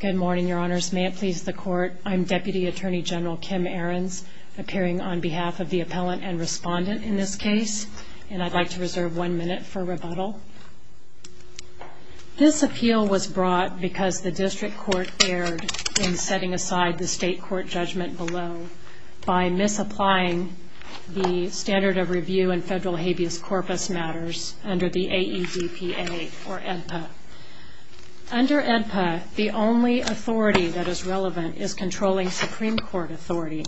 Good morning, your honors. May it please the court, I'm Deputy Attorney General Kim Ahrens, appearing on behalf of the appellant and respondent in this case, and I'd like to reserve one minute for rebuttal. This appeal was brought because the district court erred in setting aside the state court judgment below by misapplying the standard of review in federal habeas corpus matters under the AEDPA or AEDPA. Under AEDPA, the only authority that is relevant is controlling Supreme Court authority,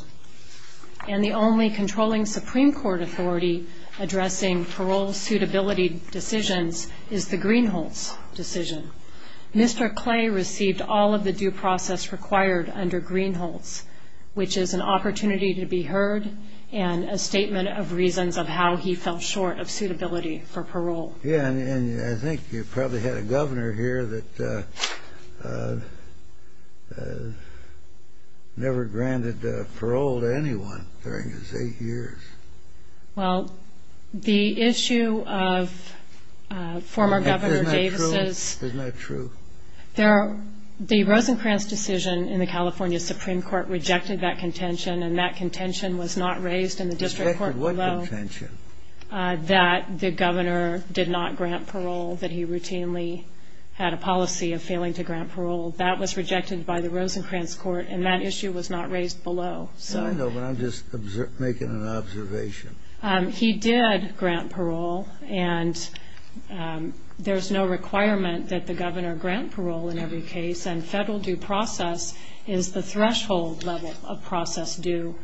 and the only controlling Supreme Court authority addressing parole suitability decisions is the Greenholz decision. Mr. Clay received all of the due process required under Greenholz, which is an opportunity to be heard and a statement of reasons of how he fell short of suitability for parole. Yeah, and I think you probably had a governor here that never granted parole to anyone during his eight years. Well, the issue of former Governor Davis's — Isn't that true? The Rosencrantz decision in the California Supreme Court rejected that contention, and that contention was not raised in the district court below. Rejected what contention? That the governor did not grant parole, that he routinely had a policy of failing to grant parole. That was rejected by the Rosencrantz court, and that issue was not raised below. I know, but I'm just making an observation. He did grant parole, and there's no requirement that the governor grant parole in every case, and federal due process is the threshold level of process due.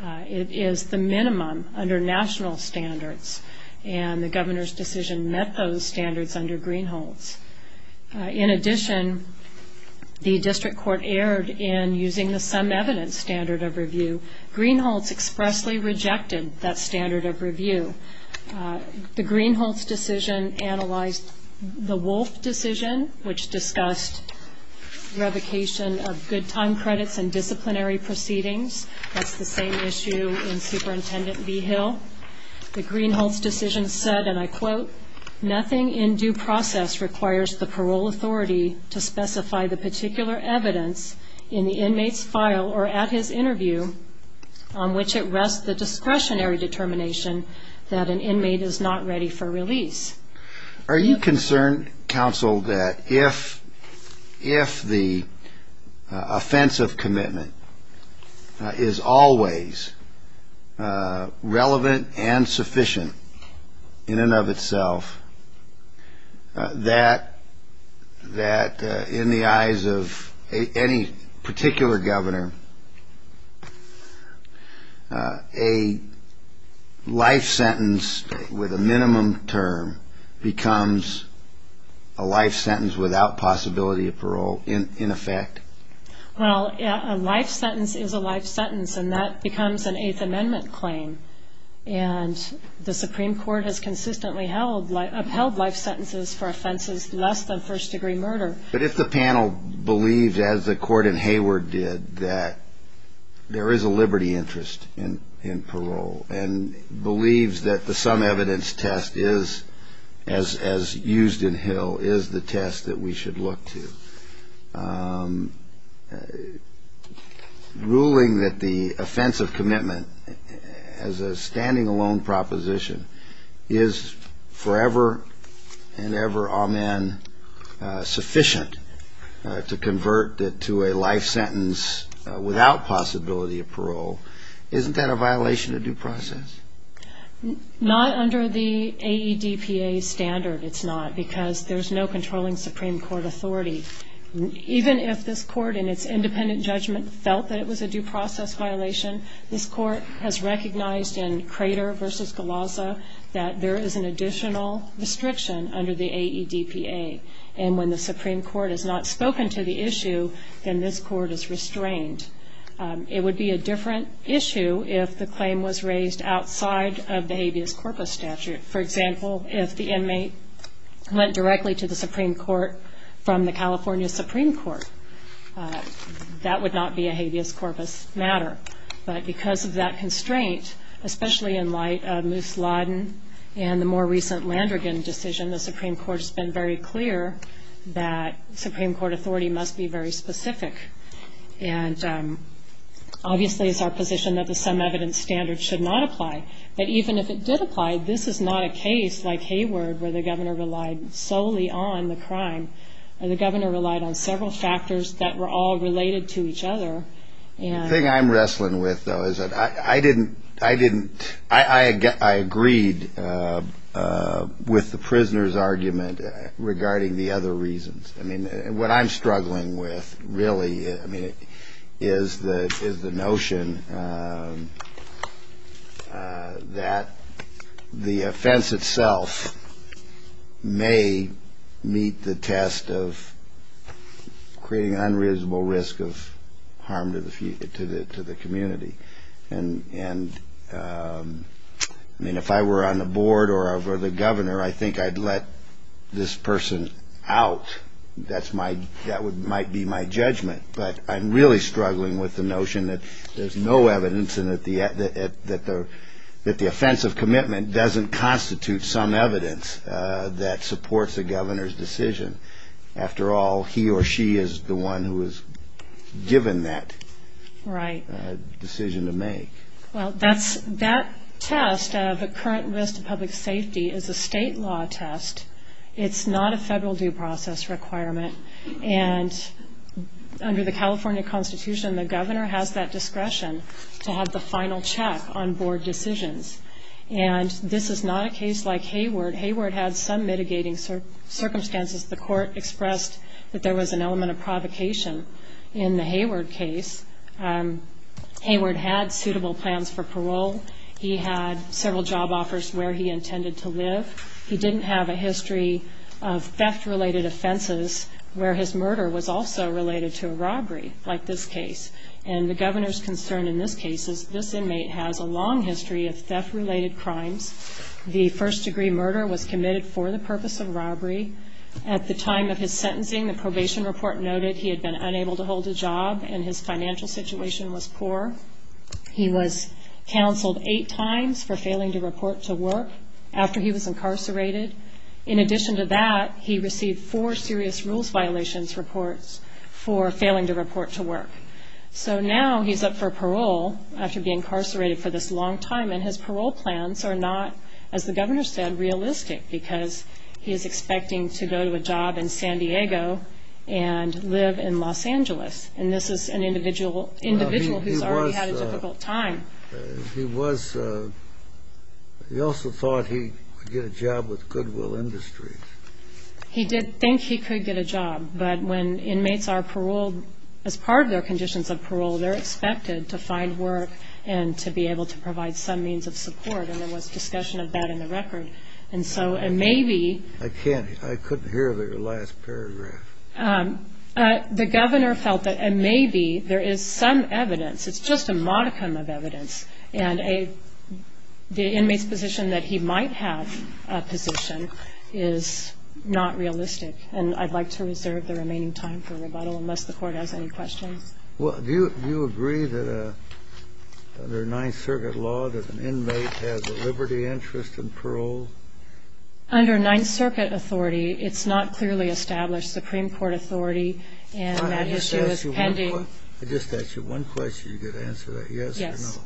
It is the minimum under national standards, and the governor's decision met those standards under Greenholz. In addition, the district court erred in using the sum evidence standard of review. Greenholz expressly rejected that standard of review. The Greenholz decision analyzed the Wolf decision, which discussed revocation of good time credits and disciplinary proceedings. That's the same issue in Superintendent V. Hill. The Greenholz decision said, and I quote, nothing in due process requires the parole authority to specify the particular evidence in the inmate's file or at his interview on which it rests the discretionary determination that an inmate is not ready for release. Are you concerned, counsel, that if the offensive commitment is always relevant and sufficient in and of itself, that in the eyes of any particular governor, a life sentence with a minimum term becomes a life sentence without possibility of parole in effect? Well, a life sentence is a life sentence, and that becomes an Eighth Amendment claim. And the Supreme Court has consistently upheld life sentences for offenses less than first-degree murder. But if the panel believes, as the court in Hayward did, that there is a liberty interest in parole and believes that the sum evidence test, as used in Hill, is the test that we should look to, ruling that the offensive commitment as a standing-alone proposition is forever and ever, amen, sufficient to convert it to a life sentence without possibility of parole, isn't that a violation of due process? Not under the AEDPA standard, it's not, because there's no controlling Supreme Court authority. Even if this court, in its independent judgment, felt that it was a due process violation, this court has recognized in Crater v. Galazza that there is an additional restriction under the AEDPA. And when the Supreme Court has not spoken to the issue, then this court is restrained. It would be a different issue if the claim was raised outside of the habeas corpus statute. For example, if the inmate went directly to the Supreme Court from the California Supreme Court, that would not be a habeas corpus matter. But because of that constraint, especially in light of Moose Laden and the more recent Landrigan decision, the Supreme Court has been very clear that Supreme Court authority must be very specific. And obviously it's our position that the sum evidence standard should not apply. But even if it did apply, this is not a case like Hayward where the governor relied solely on the crime. The governor relied on several factors that were all related to each other. The thing I'm wrestling with, though, is that I didn't, I didn't, I agreed with the prisoner's argument regarding the other reasons. I mean, what I'm struggling with really, I mean, is the notion that the offense itself may meet the test of creating an unreasonable risk of harm to the community. And, I mean, if I were on the board or I were the governor, I think I'd let this person out. That's my, that would, might be my judgment. But I'm really struggling with the notion that there's no evidence and that the, that the offensive commitment doesn't constitute some evidence that supports the governor's decision. After all, he or she is the one who was given that. Right. Decision to make. Well, that's, that test of the current risk to public safety is a state law test. It's not a federal due process requirement. And under the California Constitution, the governor has that discretion to have the final check on board decisions. And this is not a case like Hayward. Hayward had some mitigating circumstances. The court expressed that there was an element of provocation in the Hayward case. Hayward had suitable plans for parole. He had several job offers where he intended to live. He didn't have a history of theft-related offenses where his murder was also related to a robbery like this case. And the governor's concern in this case is this inmate has a long history of theft-related crimes. The first degree murder was committed for the purpose of robbery. At the time of his sentencing, the probation report noted he had been unable to hold a job and his financial situation was poor. He was counseled eight times for failing to report to work after he was incarcerated. In addition to that, he received four serious rules violations reports for failing to report to work. So now he's up for parole after being incarcerated for this long time, and his parole plans are not, as the governor said, realistic because he is expecting to go to a job in San Diego and live in Los Angeles. And this is an individual who's already had a difficult time. He also thought he would get a job with Goodwill Industries. He did think he could get a job, but when inmates are paroled as part of their conditions of parole, they're expected to find work and to be able to provide some means of support, and there was discussion of that in the record. And so maybe the governor felt that maybe there is some evidence. It's just a modicum of evidence. And the inmate's position that he might have a position is not realistic, and I'd like to reserve the remaining time for rebuttal unless the Court has any questions. Well, do you agree that under Ninth Circuit law that an inmate has a liberty interest in parole? Under Ninth Circuit authority, it's not clearly established. Supreme Court authority and that issue is pending. I just asked you one question. You've got to answer that yes or no. Yes.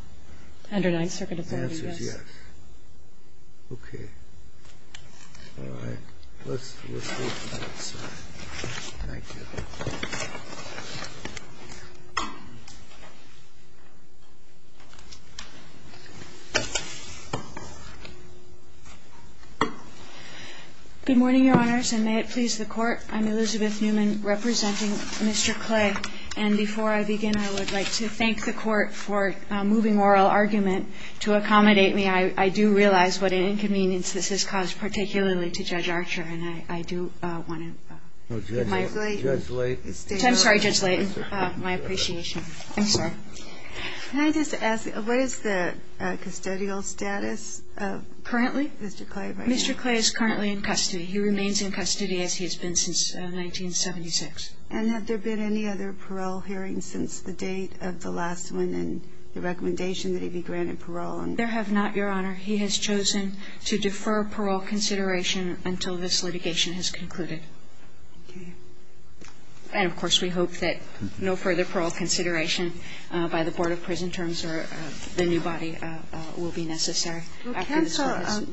Under Ninth Circuit authority, yes. The answer is yes. Okay. All right. Let's move to the next slide. Thank you. Good morning, Your Honors, and may it please the Court. I'm Elizabeth Newman representing Mr. Clay. And before I begin, I would like to thank the Court for moving oral argument to accommodate me. And I do realize what an inconvenience this has caused particularly to Judge Archer, and I do want to give my ---- Judge Layton. I'm sorry, Judge Layton. My appreciation. I'm sorry. Can I just ask, what is the custodial status of Mr. Clay right now? Mr. Clay is currently in custody. He remains in custody as he has been since 1976. And have there been any other parole hearings since the date of the last one and the recommendation that he be granted parole? There have not, Your Honor. He has chosen to defer parole consideration until this litigation has concluded. Okay. And, of course, we hope that no further parole consideration by the Board of Prison terms or the new body will be necessary. Well, counsel,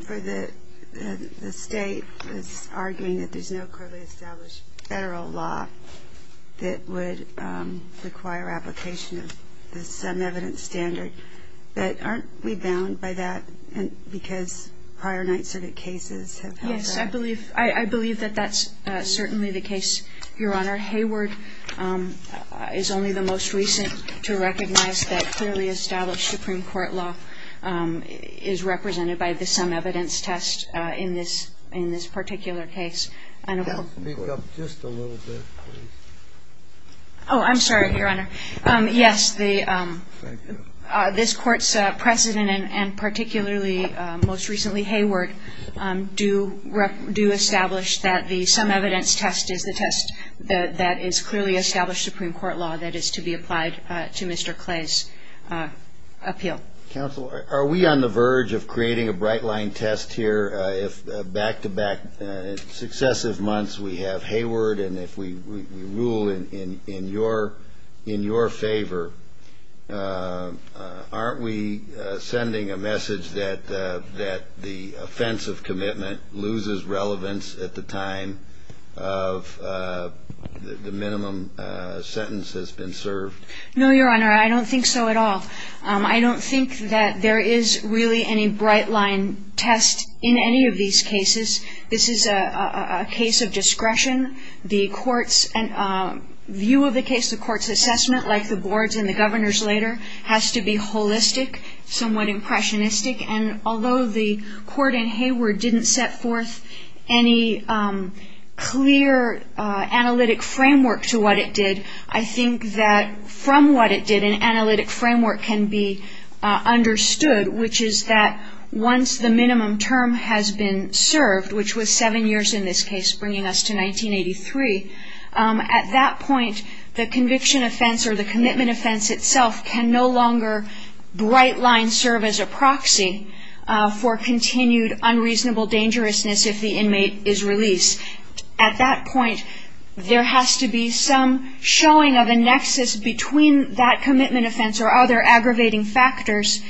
the State is arguing that there's no currently established Federal law that would require application of the sum evidence standard. But aren't we bound by that because prior Ninth Circuit cases have held that? Yes, I believe that that's certainly the case, Your Honor. Hayward is only the most recent to recognize that clearly established Supreme Court law is represented by the sum evidence test in this particular case. Speak up just a little bit, please. Oh, I'm sorry, Your Honor. Yes, this Court's precedent, and particularly most recently Hayward, do establish that the sum evidence test is the test that is clearly established Supreme Court law that is to be applied to Mr. Clay's appeal. Counsel, are we on the verge of creating a bright-line test here if back-to-back, in successive months, we have Hayward, and if we rule in your favor, aren't we sending a message that the offensive commitment loses relevance at the time of the minimum sentence that's been served? No, Your Honor, I don't think so at all. I don't think that there is really any bright-line test in any of these cases. This is a case of discretion. The view of the case, the Court's assessment, like the Board's and the Governor's later, has to be holistic, somewhat impressionistic. And although the Court in Hayward didn't set forth any clear analytic framework to what it did, I think that from what it did, an analytic framework can be understood, which is that once the minimum term has been served, which was seven years in this case, bringing us to 1983, at that point, the conviction offense or the commitment offense itself can no longer bright-line serve as a proxy for continued unreasonable dangerousness if the inmate is released. At that point, there has to be some showing of a nexus between that commitment offense or other aggravating factors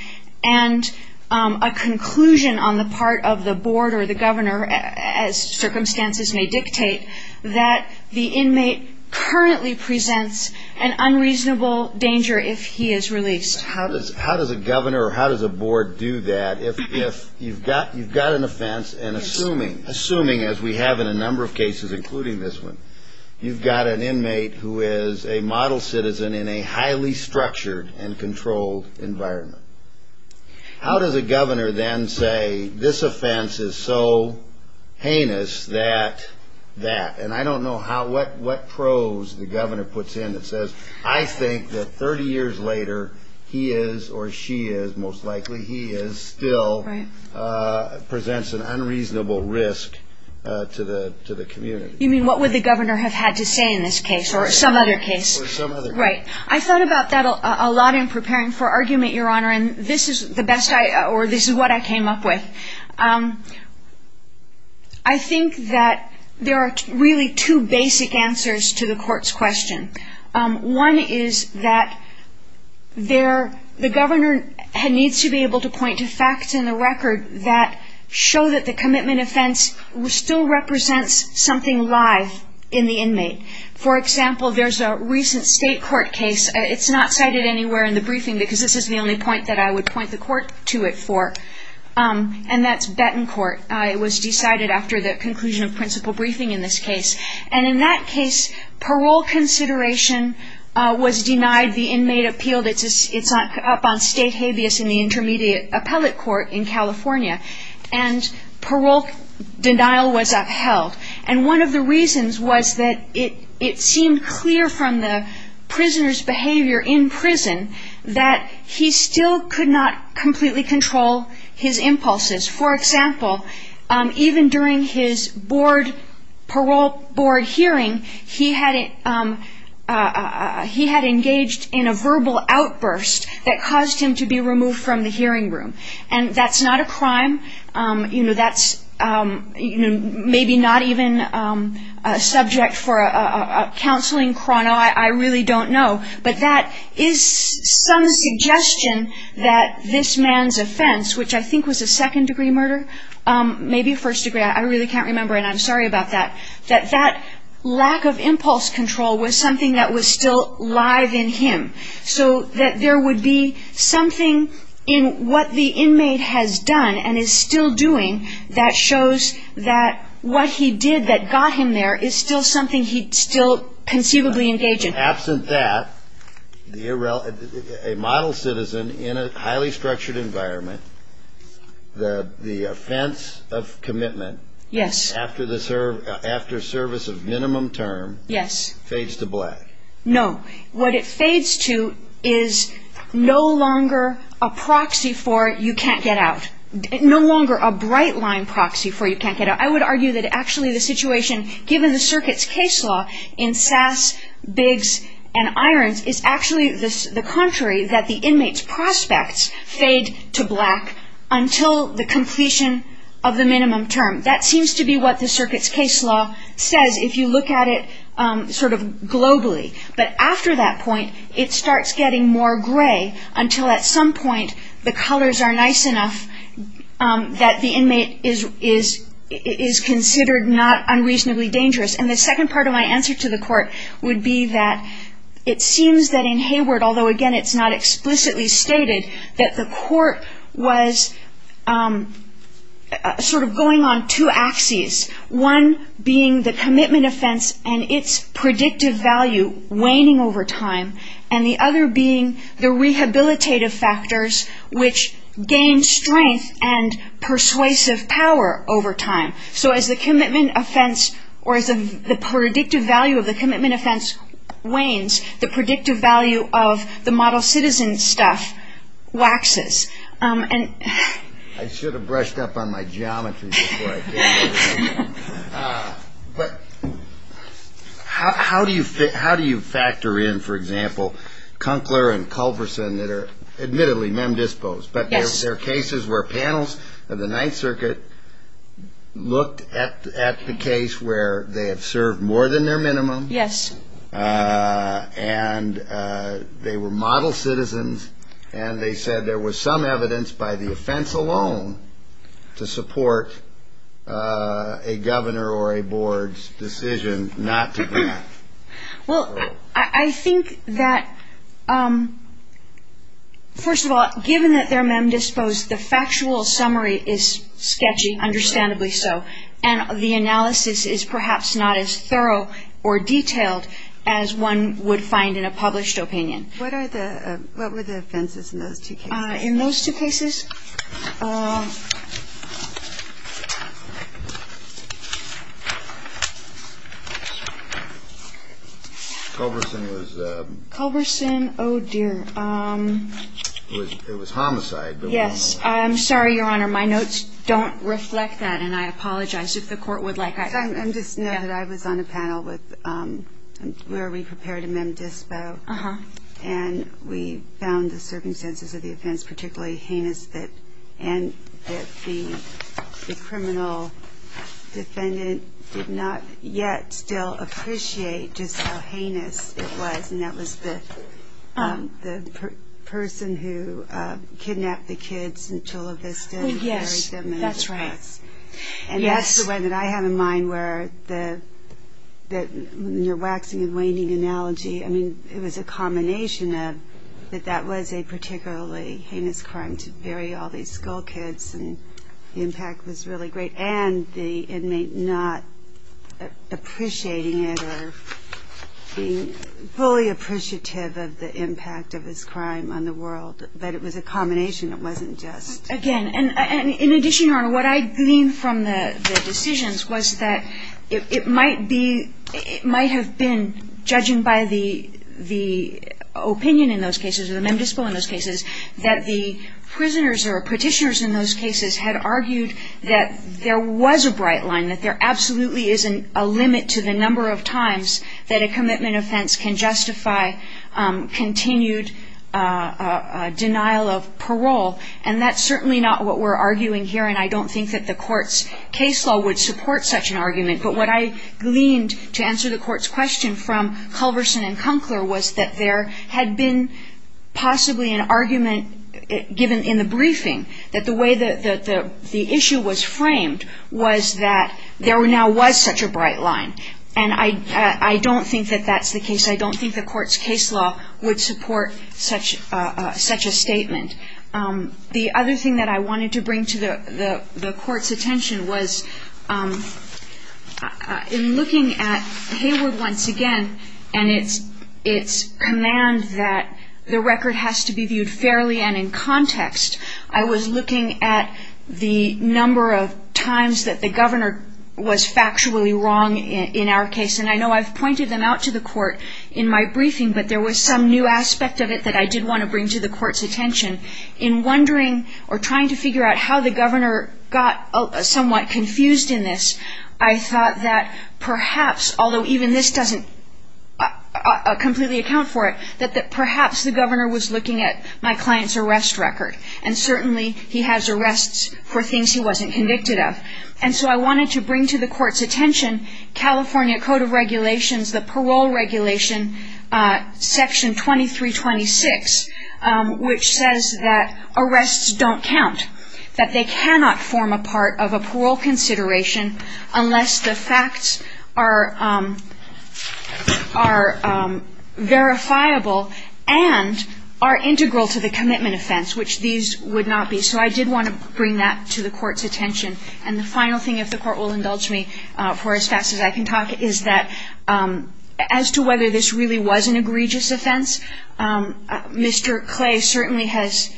and a conclusion on the part of the Board or the Governor, as circumstances may dictate, that the inmate currently presents an unreasonable danger if he is released. How does a Governor or how does a Board do that if you've got an offense, and assuming as we have in a number of cases, including this one, you've got an inmate who is a model citizen in a highly structured and controlled environment? How does a Governor then say, this offense is so heinous that that? And I don't know what prose the Governor puts in that says, I think that 30 years later he is or she is, most likely he is, still presents an unreasonable risk to the community. You mean what would the Governor have had to say in this case or some other case? Or some other case. Right. I thought about that a lot in preparing for argument, Your Honor, and this is the best I, or this is what I came up with. I think that there are really two basic answers to the Court's question. One is that the Governor needs to be able to point to facts in the record that show that the commitment offense still represents something live in the inmate. For example, there's a recent state court case. It's not cited anywhere in the briefing because this is the only point that I would point the Court to it for, and that's Bettencourt. It was decided after the conclusion of principal briefing in this case. And in that case, parole consideration was denied. The inmate appealed. It's up on state habeas in the Intermediate Appellate Court in California. And parole denial was upheld. And one of the reasons was that it seemed clear from the prisoner's behavior in prison that he still could not completely control his impulses. For example, even during his parole board hearing, he had engaged in a verbal outburst that caused him to be removed from the hearing room. And that's not a crime. That's maybe not even a subject for a counseling chrono. I really don't know. But that is some suggestion that this man's offense, which I think was a second-degree murder, maybe a first-degree, I really can't remember, and I'm sorry about that, that that lack of impulse control was something that was still live in him, so that there would be something in what the inmate has done and is still doing that shows that what he did that got him there is still something he's still conceivably engaged in. And absent that, a model citizen in a highly structured environment, the offense of commitment after service of minimum term fades to black. No. What it fades to is no longer a proxy for you can't get out, no longer a bright-line proxy for you can't get out. I would argue that actually the situation given the circuit's case law in Sass, Biggs, and Irons is actually the contrary, that the inmate's prospects fade to black until the completion of the minimum term. That seems to be what the circuit's case law says if you look at it sort of globally. But after that point, it starts getting more gray until at some point the colors are nice enough that the inmate is considered not unreasonably dangerous. And the second part of my answer to the court would be that it seems that in Hayward, although again it's not explicitly stated, that the court was sort of going on two axes, one being the commitment offense and its predictive value waning over time, and the other being the rehabilitative factors which gain strength and persuasive power over time. So as the commitment offense or as the predictive value of the commitment offense wanes, the predictive value of the model citizen stuff waxes. I should have brushed up on my geometry before I came here. But how do you factor in, for example, Kunkler and Culverson that are admittedly mem dispos, but they're cases where panels of the Ninth Circuit looked at the case where they have served more than their minimum and they were model citizens and they said there was some evidence by the offense alone to support a governor or a board's decision not to grant? Well, I think that, first of all, given that they're mem disposed, the factual summary is sketchy, understandably so. And the analysis is perhaps not as thorough or detailed as one would find in a published opinion. What are the ñ what were the offenses in those two cases? In those two cases? Culverson was ñ Culverson, oh, dear. It was homicide. Yes. I'm sorry, Your Honor, my notes don't reflect that, and I apologize if the Court would like that. I just know that I was on a panel where we prepared a mem dispo, and we found the circumstances of the offense particularly heinous and that the criminal defendant did not yet still appreciate just how heinous it was, and that was the person who kidnapped the kids in Chula Vista and buried them. Yes, that's right. And that's the one that I have in mind where the ñ when you're waxing and waning analogy, I mean, it was a combination of that that was a particularly heinous crime, to bury all these school kids, and the impact was really great, and the inmate not appreciating it or being fully appreciative of the impact of his crime on the world. But it was a combination. It wasn't just ñ Yes, again, and in addition, Your Honor, what I gleaned from the decisions was that it might be ñ it might have been, judging by the opinion in those cases, or the mem dispo in those cases, that the prisoners or petitioners in those cases had argued that there was a bright line, that there absolutely is a limit to the number of times that a commitment offense can justify continued denial of parole. And that's certainly not what we're arguing here, and I don't think that the court's case law would support such an argument. But what I gleaned to answer the court's question from Culverson and Kunckler was that there had been possibly an argument given in the briefing, that the way that the issue was framed was that there now was such a bright line. And I don't think that that's the case. I don't think the court's case law would support such a statement. The other thing that I wanted to bring to the court's attention was in looking at Hayward once again and its command that the record has to be viewed fairly and in context, I was looking at the number of times that the governor was factually wrong in our case. And I know I've pointed them out to the court in my briefing, but there was some new aspect of it that I did want to bring to the court's attention. In wondering or trying to figure out how the governor got somewhat confused in this, I thought that perhaps, although even this doesn't completely account for it, that perhaps the governor was looking at my client's arrest record, and certainly he has arrests for things he wasn't convicted of. And so I wanted to bring to the court's attention California Code of Regulations, the parole regulation, Section 2326, which says that arrests don't count, that they cannot form a part of a parole consideration unless the facts are verifiable and are integral to the commitment offense, which these would not be. So I did want to bring that to the court's attention. And the final thing, if the court will indulge me for as fast as I can talk, is that as to whether this really was an egregious offense, Mr. Clay certainly has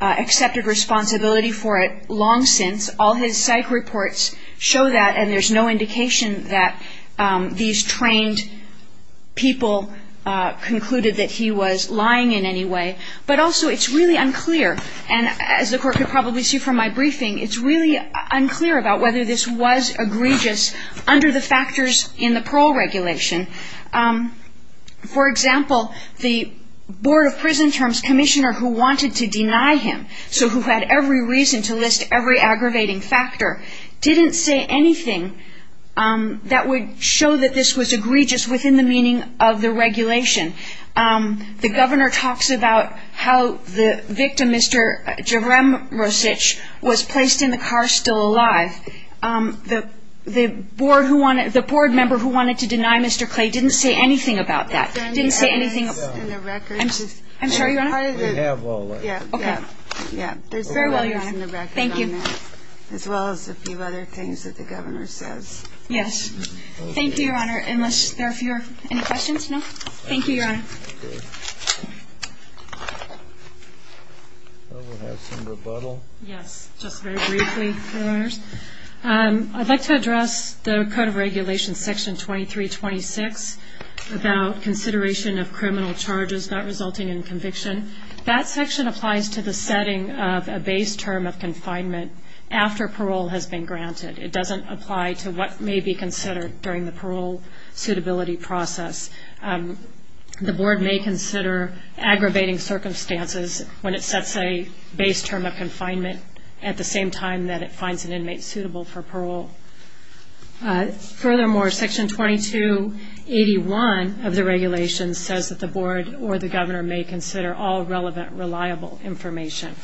accepted responsibility for it long since. All his psych reports show that, and there's no indication that these trained people concluded that he was lying in any way. But also it's really unclear, and as the court could probably see from my briefing, it's really unclear about whether this was egregious under the factors in the parole regulation. For example, the Board of Prison Terms commissioner who wanted to deny him, so who had every reason to list every aggravating factor, didn't say anything that would show that this was egregious within the meaning of the regulation. The governor talks about how the victim, Mr. Jerem Rosich, was placed in the car still alive. The board member who wanted to deny Mr. Clay didn't say anything about that. He didn't say anything. I'm sorry, Your Honor? We have all of it. Okay. Yeah, there's all the letters in the record on that. Thank you. As well as a few other things that the governor says. Yes. Thank you, Your Honor. Unless there are any questions? No? Thank you, Your Honor. We'll have some rebuttal. Yes, just very briefly, Your Honors. I'd like to address the Code of Regulations, Section 2326, about consideration of criminal charges not resulting in conviction. That section applies to the setting of a base term of confinement after parole has been granted. It doesn't apply to what may be considered during the parole suitability process. The board may consider aggravating circumstances when it sets a base term of confinement at the same time that it finds an inmate suitable for parole. Furthermore, Section 2281 of the regulation says that the board or the governor may consider all relevant, reliable information.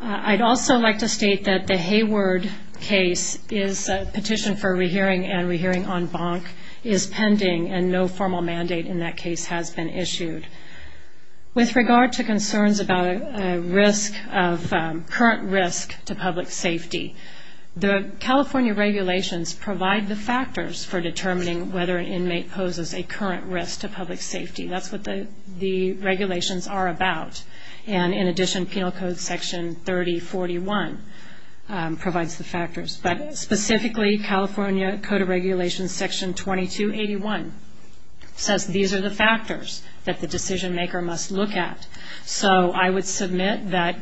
I'd also like to state that the Hayward case is a petition for rehearing and rehearing en banc is pending and no formal mandate in that case has been issued. With regard to concerns about a risk of current risk to public safety, the California regulations provide the factors for determining whether an inmate poses a current risk to public safety. That's what the regulations are about. And in addition, Penal Code Section 3041 provides the factors. But specifically, California Code of Regulations, Section 2281, says these are the factors that the decision maker must look at. So I would submit that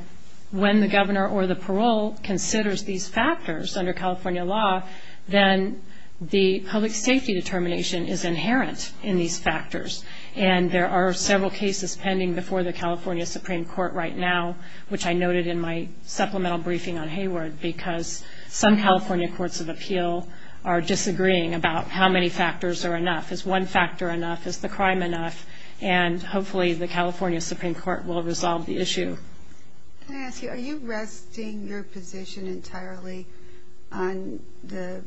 when the governor or the parole considers these factors under California law, then the public safety determination is inherent in these factors. And there are several cases pending before the California Supreme Court right now, which I noted in my supplemental briefing on Hayward, because some California courts of appeal are disagreeing about how many factors are enough. Is one factor enough? Is the crime enough? And hopefully the California Supreme Court will resolve the issue. Can I ask you, are you resting your position entirely on the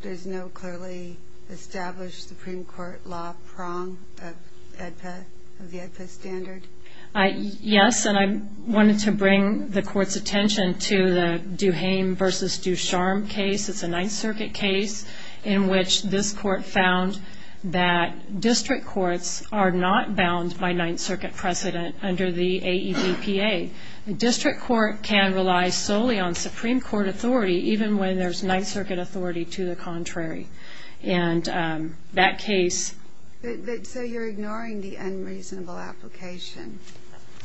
there's no clearly established Supreme Court law prong of the AEDPA standard? Yes, and I wanted to bring the Court's attention to the Duhame v. Ducharme case. It's a Ninth Circuit case in which this Court found that district courts are not bound by Ninth Circuit precedent under the AEDPA. The district court can rely solely on Supreme Court authority, even when there's Ninth Circuit authority to the contrary. And that case So you're ignoring the unreasonable application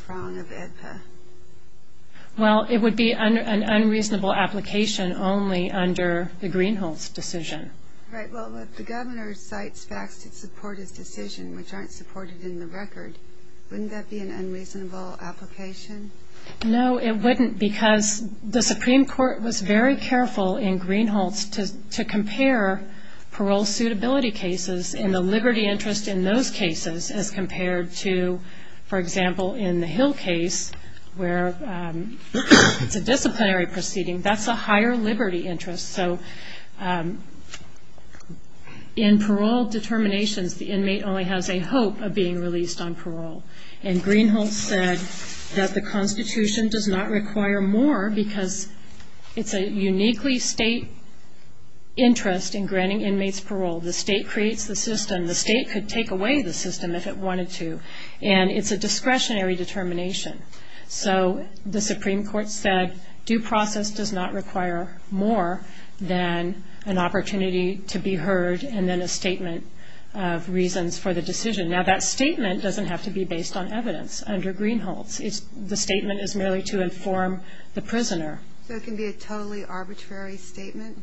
prong of AEDPA? Well, it would be an unreasonable application only under the Greenhalgh's decision. Right, well, if the governor cites facts to support his decision, which aren't supported in the record, wouldn't that be an unreasonable application? No, it wouldn't, because the Supreme Court was very careful in Greenhalgh's to compare parole suitability cases and the liberty interest in those cases as compared to, for example, in the Hill case, where it's a disciplinary proceeding. That's a higher liberty interest. So in parole determinations, the inmate only has a hope of being released on parole. And Greenhalgh said that the Constitution does not require more because it's a uniquely state interest in granting inmates parole. The state creates the system. The state could take away the system if it wanted to. And it's a discretionary determination. So the Supreme Court said due process does not require more than an opportunity to be heard and then a statement of reasons for the decision. Now, that statement doesn't have to be based on evidence under Greenhalgh's. The statement is merely to inform the prisoner. So it can be a totally arbitrary statement?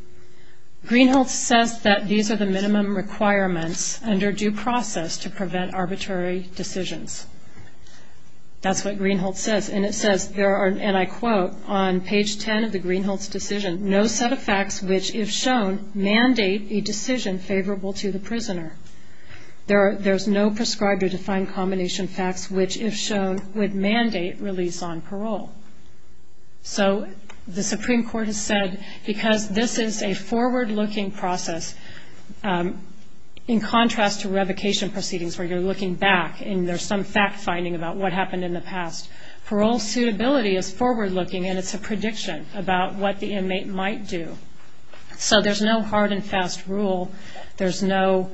Greenhalgh says that these are the minimum requirements under due process to prevent arbitrary decisions. That's what Greenhalgh says. And it says there are, and I quote, on page 10 of the Greenhalgh's decision, no set of facts which, if shown, mandate a decision favorable to the prisoner. There's no prescribed or defined combination of facts which, if shown, would mandate release on parole. So the Supreme Court has said because this is a forward-looking process, in contrast to revocation proceedings where you're looking back and there's some fact-finding about what happened in the past, parole suitability is forward-looking and it's a prediction about what the inmate might do. So there's no hard and fast rule. There's no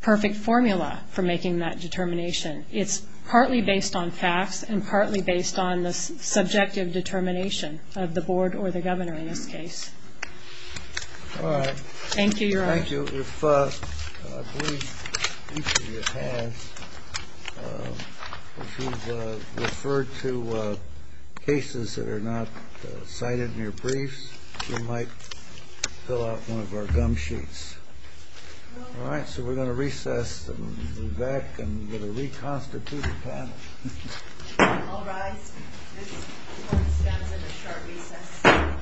perfect formula for making that determination. It's partly based on facts and partly based on the subjective determination of the board or the governor in this case. All right. Thank you, Your Honor. Thank you. If I believe each of you has, if you've referred to cases that are not cited in your briefs, we might fill out one of our gum sheets. All right. So we're going to recess and move back and get a reconstituted panel. All rise. This court stands at a short recess.